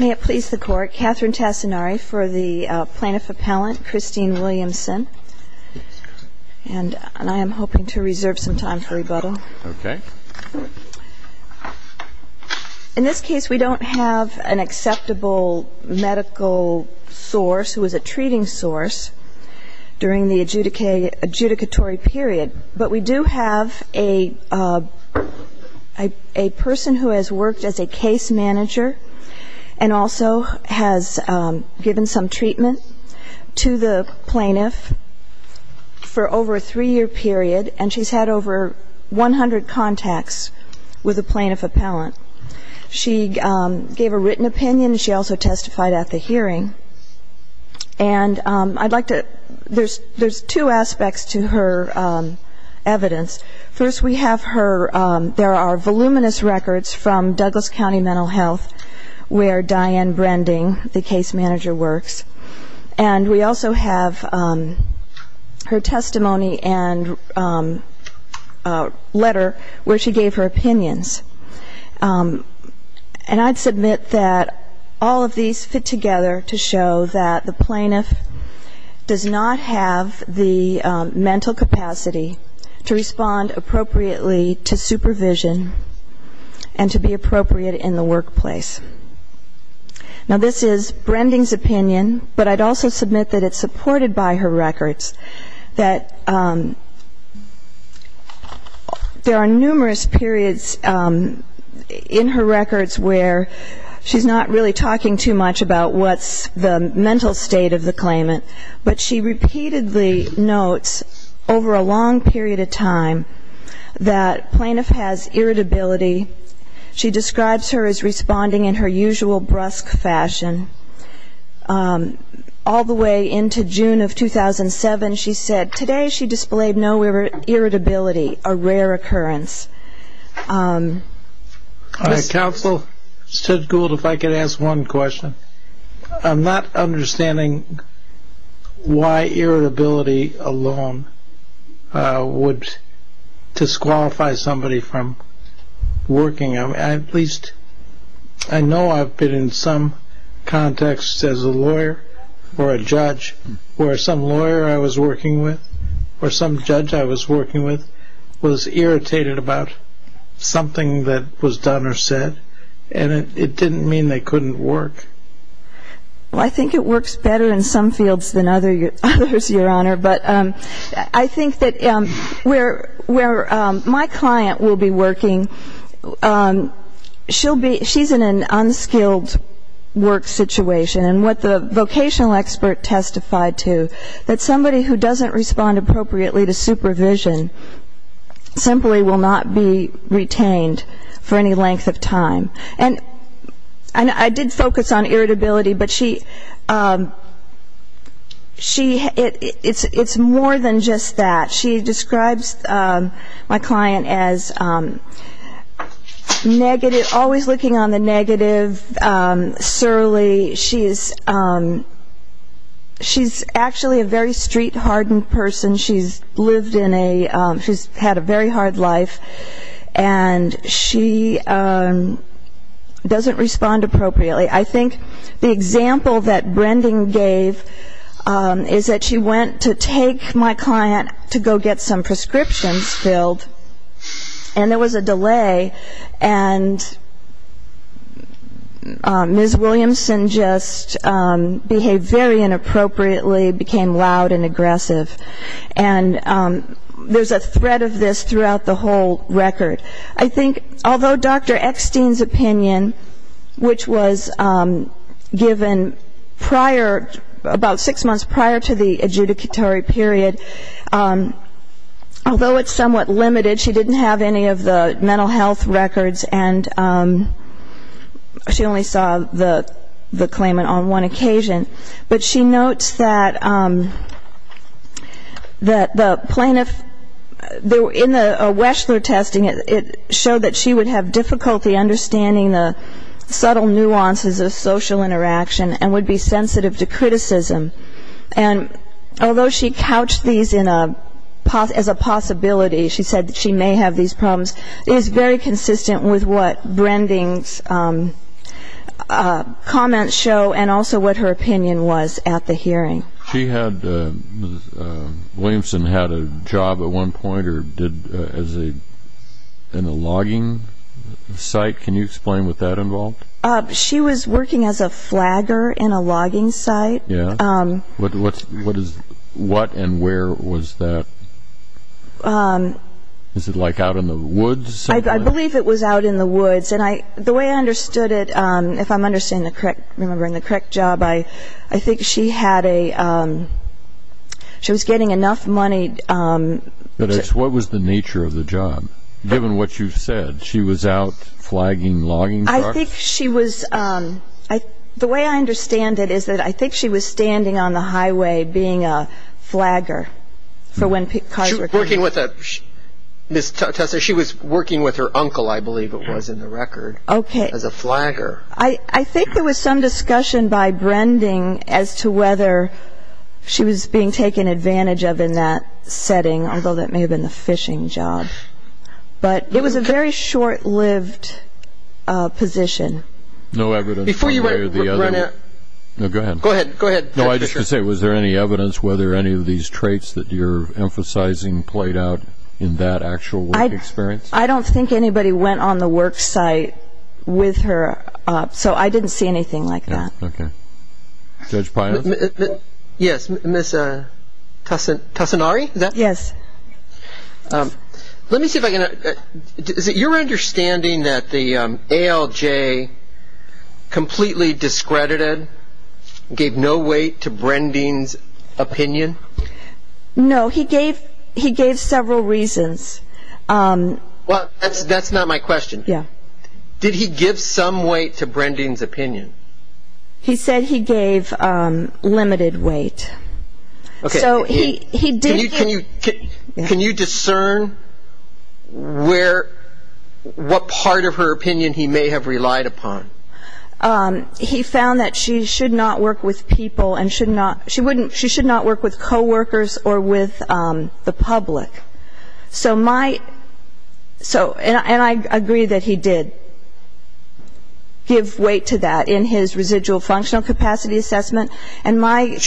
May it please the Court, Catherine Tassinari for the Plaintiff Appellant, Christine Williamson. And I am hoping to reserve some time for rebuttal. Okay. In this case, we don't have an acceptable medical source who is a treating source during the adjudicatory period, but we do have a person who has worked as a case manager and also has given some treatment to the plaintiff for over a three-year period, and she's had over 100 contacts with a plaintiff appellant. She gave a written opinion. She also testified at the hearing. And I'd like to ‑‑ there's two aspects to her evidence. First, we have her ‑‑ there are voluminous records from Douglas County Mental Health where Diane Brending, the case manager, works. And we also have her testimony and letter where she gave her opinions. And I'd submit that all of these fit together to show that the plaintiff does not have the mental capacity to respond appropriately to supervision and to be appropriate in the workplace. Now, this is Brending's opinion, but I'd also submit that it's supported by her records, that there are numerous periods of in her records where she's not really talking too much about what's the mental state of the claimant, but she repeatedly notes over a long period of time that plaintiff has irritability. She describes her as responding in her usual brusque fashion. All the way into June of 2007, she said, today she displayed no irritability, a rare occurrence. Counsel, Judge Gould, if I could ask one question. I'm not understanding why irritability alone would disqualify somebody from working. At least I know I've been in some context as a lawyer or a judge where some lawyer I was working with or some judge I was working with was irritated about something that was done or said, and it didn't mean they couldn't work. Well, I think it works better in some fields than others, Your Honor. But I think that where my client will be working, she's in an unskilled work situation. And what the vocational expert testified to, that somebody who doesn't respond appropriately to supervision simply will not be retained for any length of time. And I did focus on irritability, but she, it's more than just that. She describes my client as negative, always looking on the negative, surly. She's actually a very street-hardened person. She's lived in a, she's had a very hard life. And she doesn't respond appropriately. I think the example that Brendan gave is that she went to take my client to go get some prescriptions filled, and there was a delay, and Ms. Williamson just behaved very inappropriately, became loud and aggressive. And there's a thread of this throughout the whole record. I think, although Dr. Eckstein's opinion, which was given prior, about six months prior to the adjudicatory period, although it's somewhat limited, she didn't have any of the mental health records, and she only saw the claimant on one occasion. But she notes that the plaintiff, in the Weschler testing, it showed that she would have difficulty understanding the subtle nuances of social interaction and would be sensitive to criticism. And although she couched these as a possibility, she said that she may have these problems, is very consistent with what Brendan's comments show and also what her opinion was at the hearing. She had, Ms. Williamson had a job at one point or did as a, in a logging site. Can you explain what that involved? She was working as a flagger in a logging site. What and where was that? Is it like out in the woods? I believe it was out in the woods. And the way I understood it, if I'm understanding it correct, remembering the correct job, I think she had a, she was getting enough money. What was the nature of the job, given what you've said? She was out flagging logging cars? I think she was, the way I understand it is that I think she was standing on the highway being a flagger for when cars were coming. Working with a, Ms. Tessa, she was working with her uncle, I believe it was, in the record. Okay. As a flagger. I think there was some discussion by Brendan as to whether she was being taken advantage of in that setting, although that may have been the fishing job. But it was a very short-lived position. Before you run out. No, go ahead. Go ahead. No, I was just going to say, was there any evidence whether any of these traits that you're emphasizing played out in that actual work experience? I don't think anybody went on the work site with her, so I didn't see anything like that. Okay. Judge Pines? Yes, Ms. Tassanari? Yes. Let me see if I can, is it your understanding that the ALJ completely discredited, gave no weight to Brendan's opinion? No, he gave several reasons. Well, that's not my question. Yeah. Did he give some weight to Brendan's opinion? He said he gave limited weight. Can you discern what part of her opinion he may have relied upon? He found that she should not work with people and she should not work with coworkers or with the public. And I agree that he did give weight to that in his residual functional capacity assessment. And my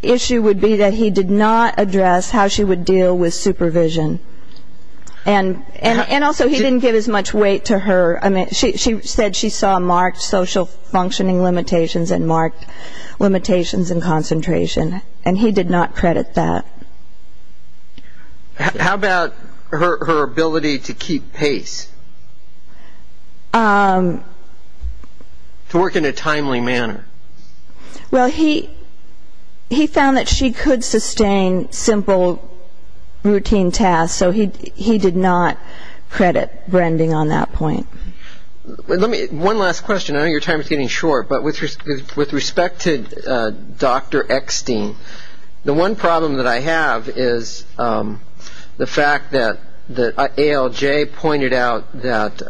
issue would be that he did not address how she would deal with supervision. And also, he didn't give as much weight to her. I mean, she said she saw marked social functioning limitations and marked limitations in concentration, and he did not credit that. How about her ability to keep pace, to work in a timely manner? Well, he found that she could sustain simple routine tasks, so he did not credit Brendan on that point. One last question. I know your time is getting short, but with respect to Dr. Eckstein, the one problem that I have is the fact that ALJ pointed out that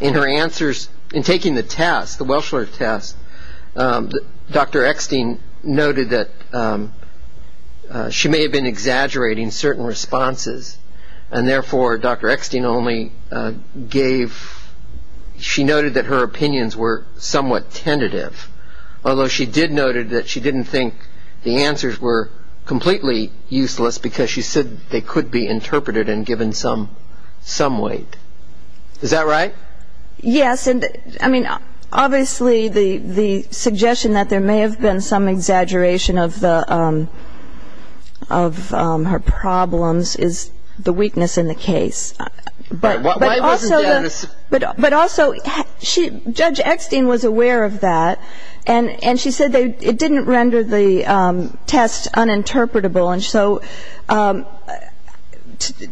in her answers, in taking the test, the Welschler test, Dr. Eckstein noted that she may have been exaggerating certain responses, and therefore, Dr. Eckstein only gave – she noted that her opinions were somewhat tentative, although she did note that she didn't think the answers were completely useless because she said they could be interpreted and given some weight. Is that right? Yes. I mean, obviously, the suggestion that there may have been some exaggeration of her problems is the weakness in the case. But also, Judge Eckstein was aware of that, and she said it didn't render the test uninterpretable. And so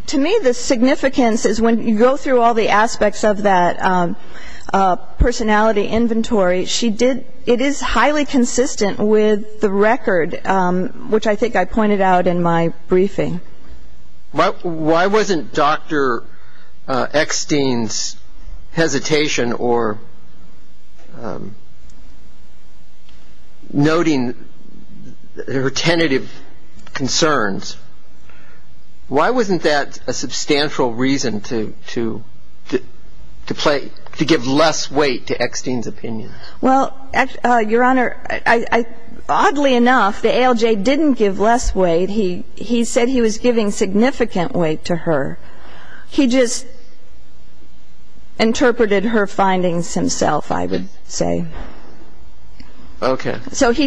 to me, the significance is when you go through all the aspects of that personality inventory, it is highly consistent with the record, which I think I pointed out in my briefing. Why wasn't Dr. Eckstein's hesitation or noting her tentative concerns, why wasn't that a substantial reason to give less weight to Eckstein's opinions? Well, Your Honor, oddly enough, the ALJ didn't give less weight. He said he was giving significant weight to her. He just interpreted her findings himself, I would say. Okay. So he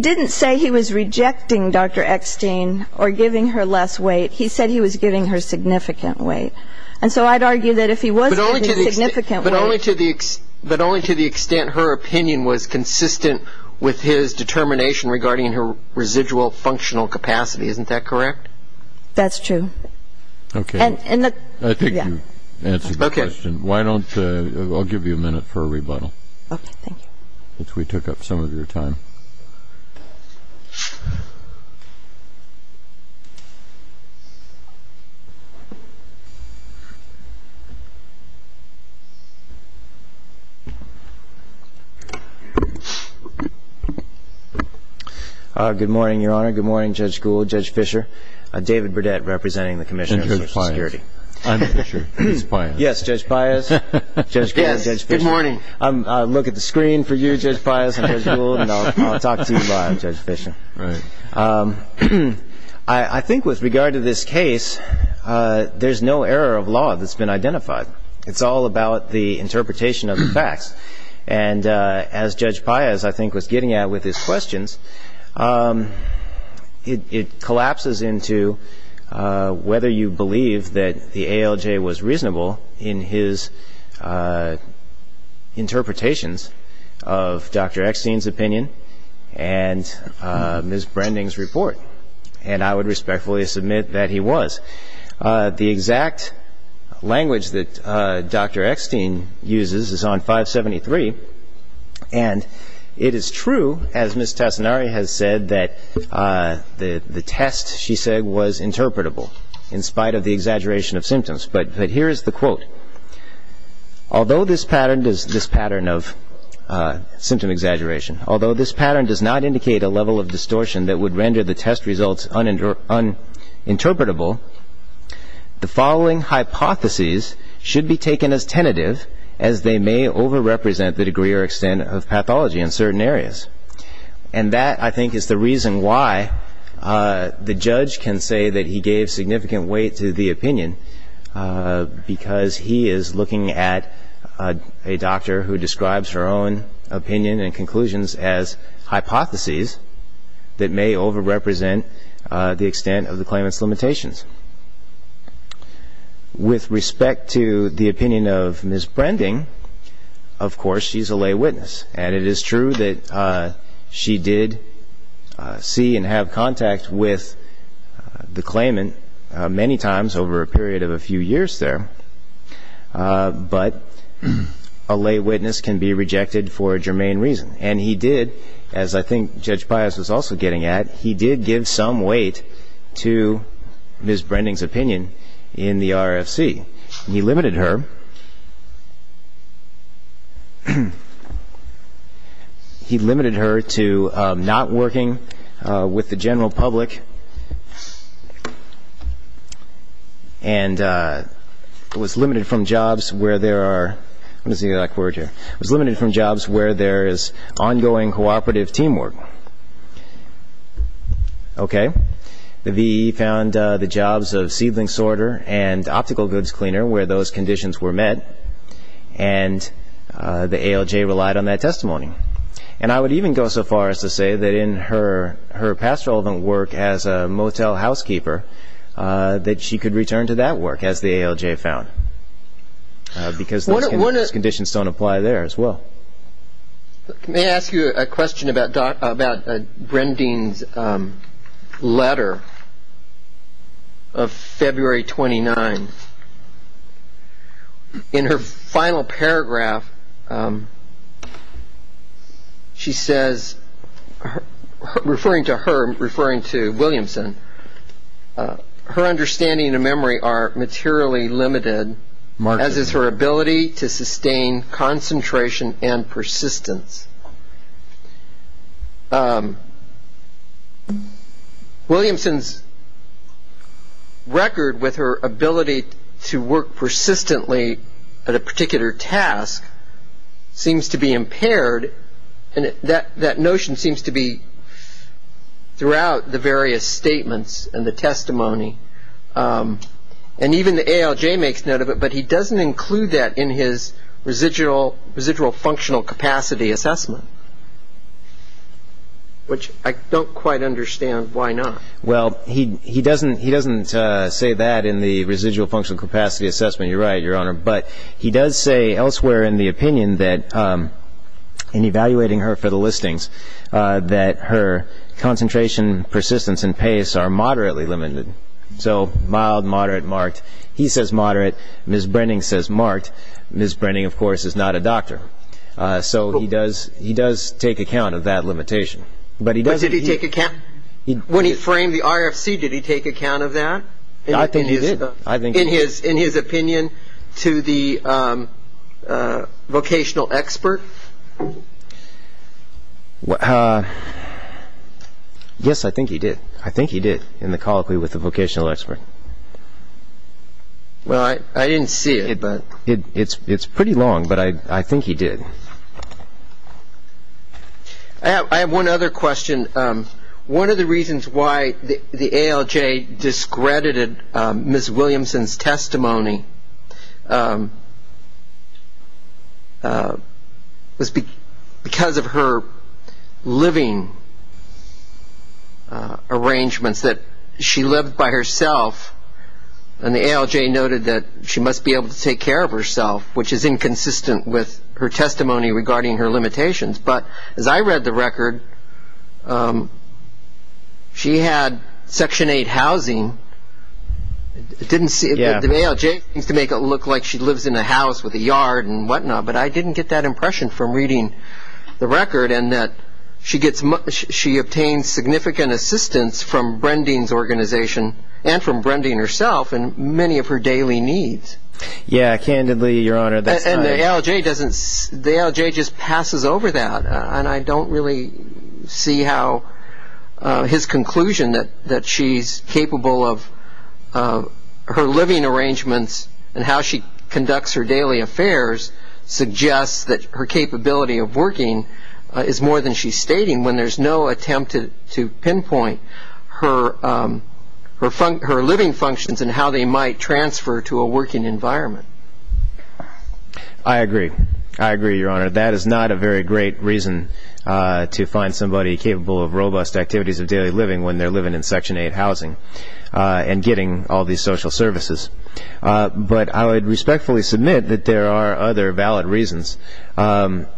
didn't say he was rejecting Dr. Eckstein or giving her less weight. He said he was giving her significant weight. And so I'd argue that if he was giving significant weight – But only to the extent her opinion was consistent with his determination regarding her residual functional capacity. Isn't that correct? That's true. Okay. I think you answered the question. Why don't – I'll give you a minute for a rebuttal. Okay. Thank you. We took up some of your time. Good morning, Your Honor. Good morning, Judge Gould, Judge Fischer. David Burdette, representing the Commission on Social Security. And Judge Pius. I'm Fischer. He's Pius. Yes, Judge Pius. Judge Gould, Judge Fischer. Yes. Good morning. I'll look at the screen for you, Judge Pius and Judge Gould, and I'll talk to you live, Judge Fischer. Right. I think with regard to this case, there's no error of law that's been identified. It's all about the interpretation of the facts. And as Judge Pius, I think, was getting at with his questions, it collapses into whether you believe that the ALJ was reasonable in his interpretations of Dr. Eckstein's opinion and Ms. Branding's report. And I would respectfully submit that he was. The exact language that Dr. Eckstein uses is on 573, and it is true, as Ms. Tassinari has said, that the test, she said, was interpretable, in spite of the exaggeration of symptoms. But here is the quote. Although this pattern does not indicate a level of distortion that would render the test results uninterpretable, the following hypotheses should be taken as tentative, as they may overrepresent the degree or extent of pathology in certain areas. And that, I think, is the reason why the judge can say that he gave significant weight to the opinion, because he is looking at a doctor who describes her own opinion and conclusions as hypotheses that may overrepresent the extent of the claimant's limitations. With respect to the opinion of Ms. Branding, of course, she's a lay witness. And it is true that she did see and have contact with the claimant many times over a period of a few years there. But a lay witness can be rejected for a germane reason. And he did, as I think Judge Pius was also getting at, he did give some weight to Ms. Branding's opinion in the RFC. He limited her to not working with the general public and was limited from jobs where there are, let me see if I can work here, was limited from jobs where there is ongoing cooperative teamwork. Okay. The VE found the jobs of seedling sorter and optical goods cleaner where those conditions were met, and the ALJ relied on that testimony. And I would even go so far as to say that in her past relevant work as a motel housekeeper, that she could return to that work, as the ALJ found, because those conditions don't apply there as well. May I ask you a question about Branding's letter of February 29th? In her final paragraph, she says, referring to her, referring to Williamson, her understanding and memory are materially limited, as is her ability to sustain concentration and persistence. Williamson's record with her ability to work persistently at a particular task seems to be impaired, and that notion seems to be throughout the various statements and the testimony. And even the ALJ makes note of it, but he doesn't include that in his residual functional capacity assessment, which I don't quite understand why not. Well, he doesn't say that in the residual functional capacity assessment. You're right, Your Honor. But he does say elsewhere in the opinion that, in evaluating her for the listings, that her concentration, persistence, and pace are moderately limited. So mild, moderate, marked. He says moderate. Ms. Branding says marked. Ms. Branding, of course, is not a doctor. So he does take account of that limitation. But did he take account? When he framed the RFC, did he take account of that? I think he did. In his opinion to the vocational expert? Yes, I think he did. I think he did in the colloquy with the vocational expert. Well, I didn't see it. It's pretty long, but I think he did. I have one other question. One of the reasons why the ALJ discredited Ms. Williamson's testimony was because of her living arrangements, that she lived by herself, and the ALJ noted that she must be able to take care of herself, which is inconsistent with her testimony regarding her limitations. But as I read the record, she had Section 8 housing. The ALJ seems to make it look like she lives in a house with a yard and whatnot, but I didn't get that impression from reading the record, and that she obtains significant assistance from Branding's organization and from Branding herself in many of her daily needs. Yes, candidly, Your Honor. And the ALJ just passes over that, and I don't really see how his conclusion that she's capable of her living arrangements and how she conducts her daily affairs suggests that her capability of working is more than she's stating when there's no attempt to pinpoint her living functions and how they might transfer to a working environment. I agree. I agree, Your Honor. That is not a very great reason to find somebody capable of robust activities of daily living when they're living in Section 8 housing and getting all these social services. But I would respectfully submit that there are other valid reasons. The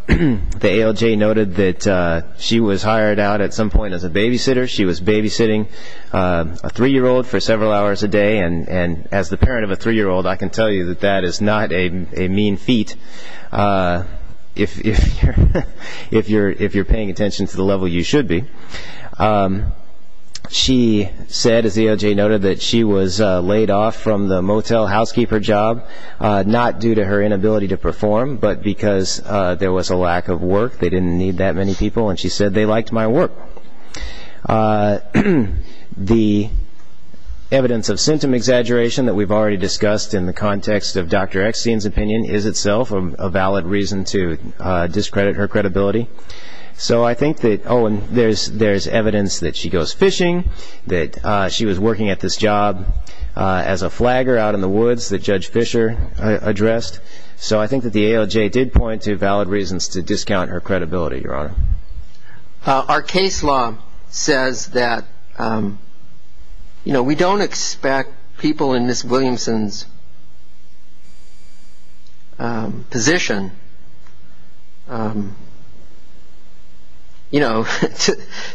ALJ noted that she was hired out at some point as a babysitter. She was babysitting a three-year-old for several hours a day, and as the parent of a three-year-old, I can tell you that that is not a mean feat if you're paying attention to the level you should be. She said, as the ALJ noted, that she was laid off from the motel housekeeper job, not due to her inability to perform, but because there was a lack of work. They didn't need that many people, and she said, they liked my work. The evidence of symptom exaggeration that we've already discussed in the context of Dr. Eckstein's opinion is itself a valid reason to discredit her credibility. So I think that there's evidence that she goes fishing, that she was working at this job as a flagger out in the woods, and there's evidence that Judge Fischer addressed. So I think that the ALJ did point to valid reasons to discount her credibility, Your Honor. Our case law says that we don't expect people in Ms. Williamson's position, you know,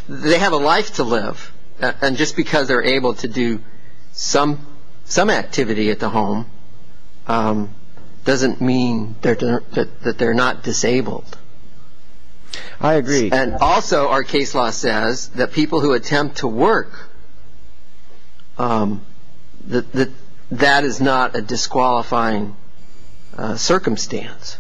they have a life to live, and just because they're able to do some activity at the home doesn't mean that they're not disabled. I agree. And also our case law says that people who attempt to work, that is not a disqualifying circumstance.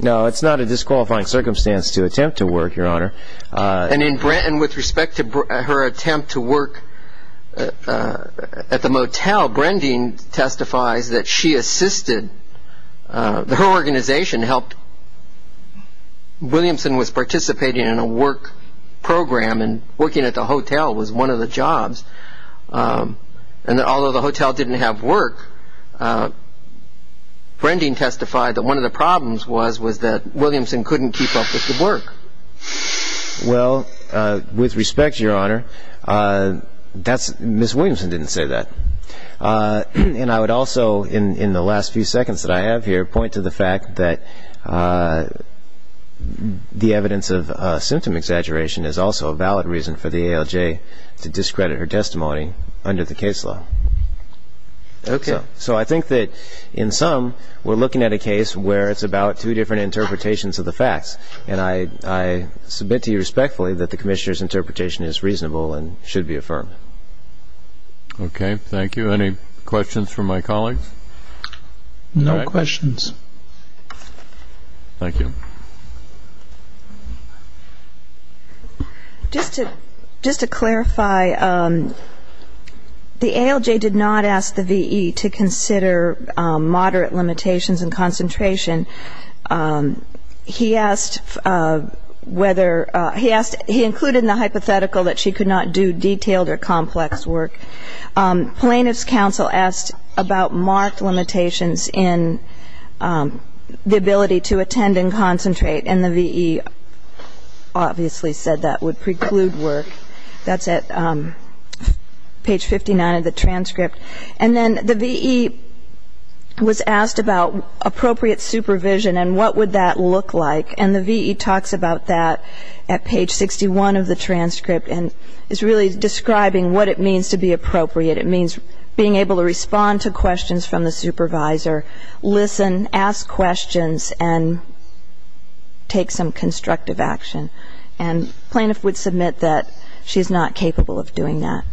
No, it's not a disqualifying circumstance to attempt to work, Your Honor. And with respect to her attempt to work at the motel, Brending testifies that she assisted. Her organization helped. Williamson was participating in a work program and working at the hotel was one of the jobs. And although the hotel didn't have work, Brending testified that one of the problems was that Williamson couldn't keep up with the work. Well, with respect, Your Honor, Ms. Williamson didn't say that. And I would also, in the last few seconds that I have here, point to the fact that the evidence of symptom exaggeration is also a valid reason for the ALJ to discredit her testimony under the case law. Okay. So I think that in sum, we're looking at a case where it's about two different interpretations of the facts. And I submit to you respectfully that the Commissioner's interpretation is reasonable and should be affirmed. Okay. Thank you. Any questions from my colleagues? No questions. Thank you. Just to clarify, the ALJ did not ask the V.E. to consider moderate limitations and concentration. He asked whether he asked he included in the hypothetical that she could not do detailed or complex work. Plaintiff's counsel asked about marked limitations in the ability to attend and concentrate, and the V.E. obviously said that would preclude work. That's at page 59 of the transcript. And then the V.E. was asked about appropriate supervision and what would that look like, and the V.E. talks about that at page 61 of the transcript and is really describing what it means to be appropriate. It means being able to respond to questions from the supervisor, listen, ask questions, and take some constructive action. And plaintiff would submit that she's not capable of doing that.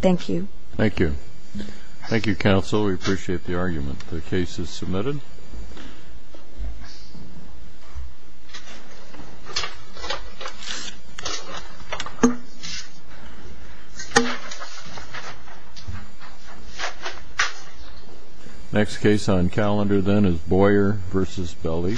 Thank you. Thank you. Thank you, counsel. We appreciate the argument. The case is submitted. Next case on calendar then is Boyer v. Belli.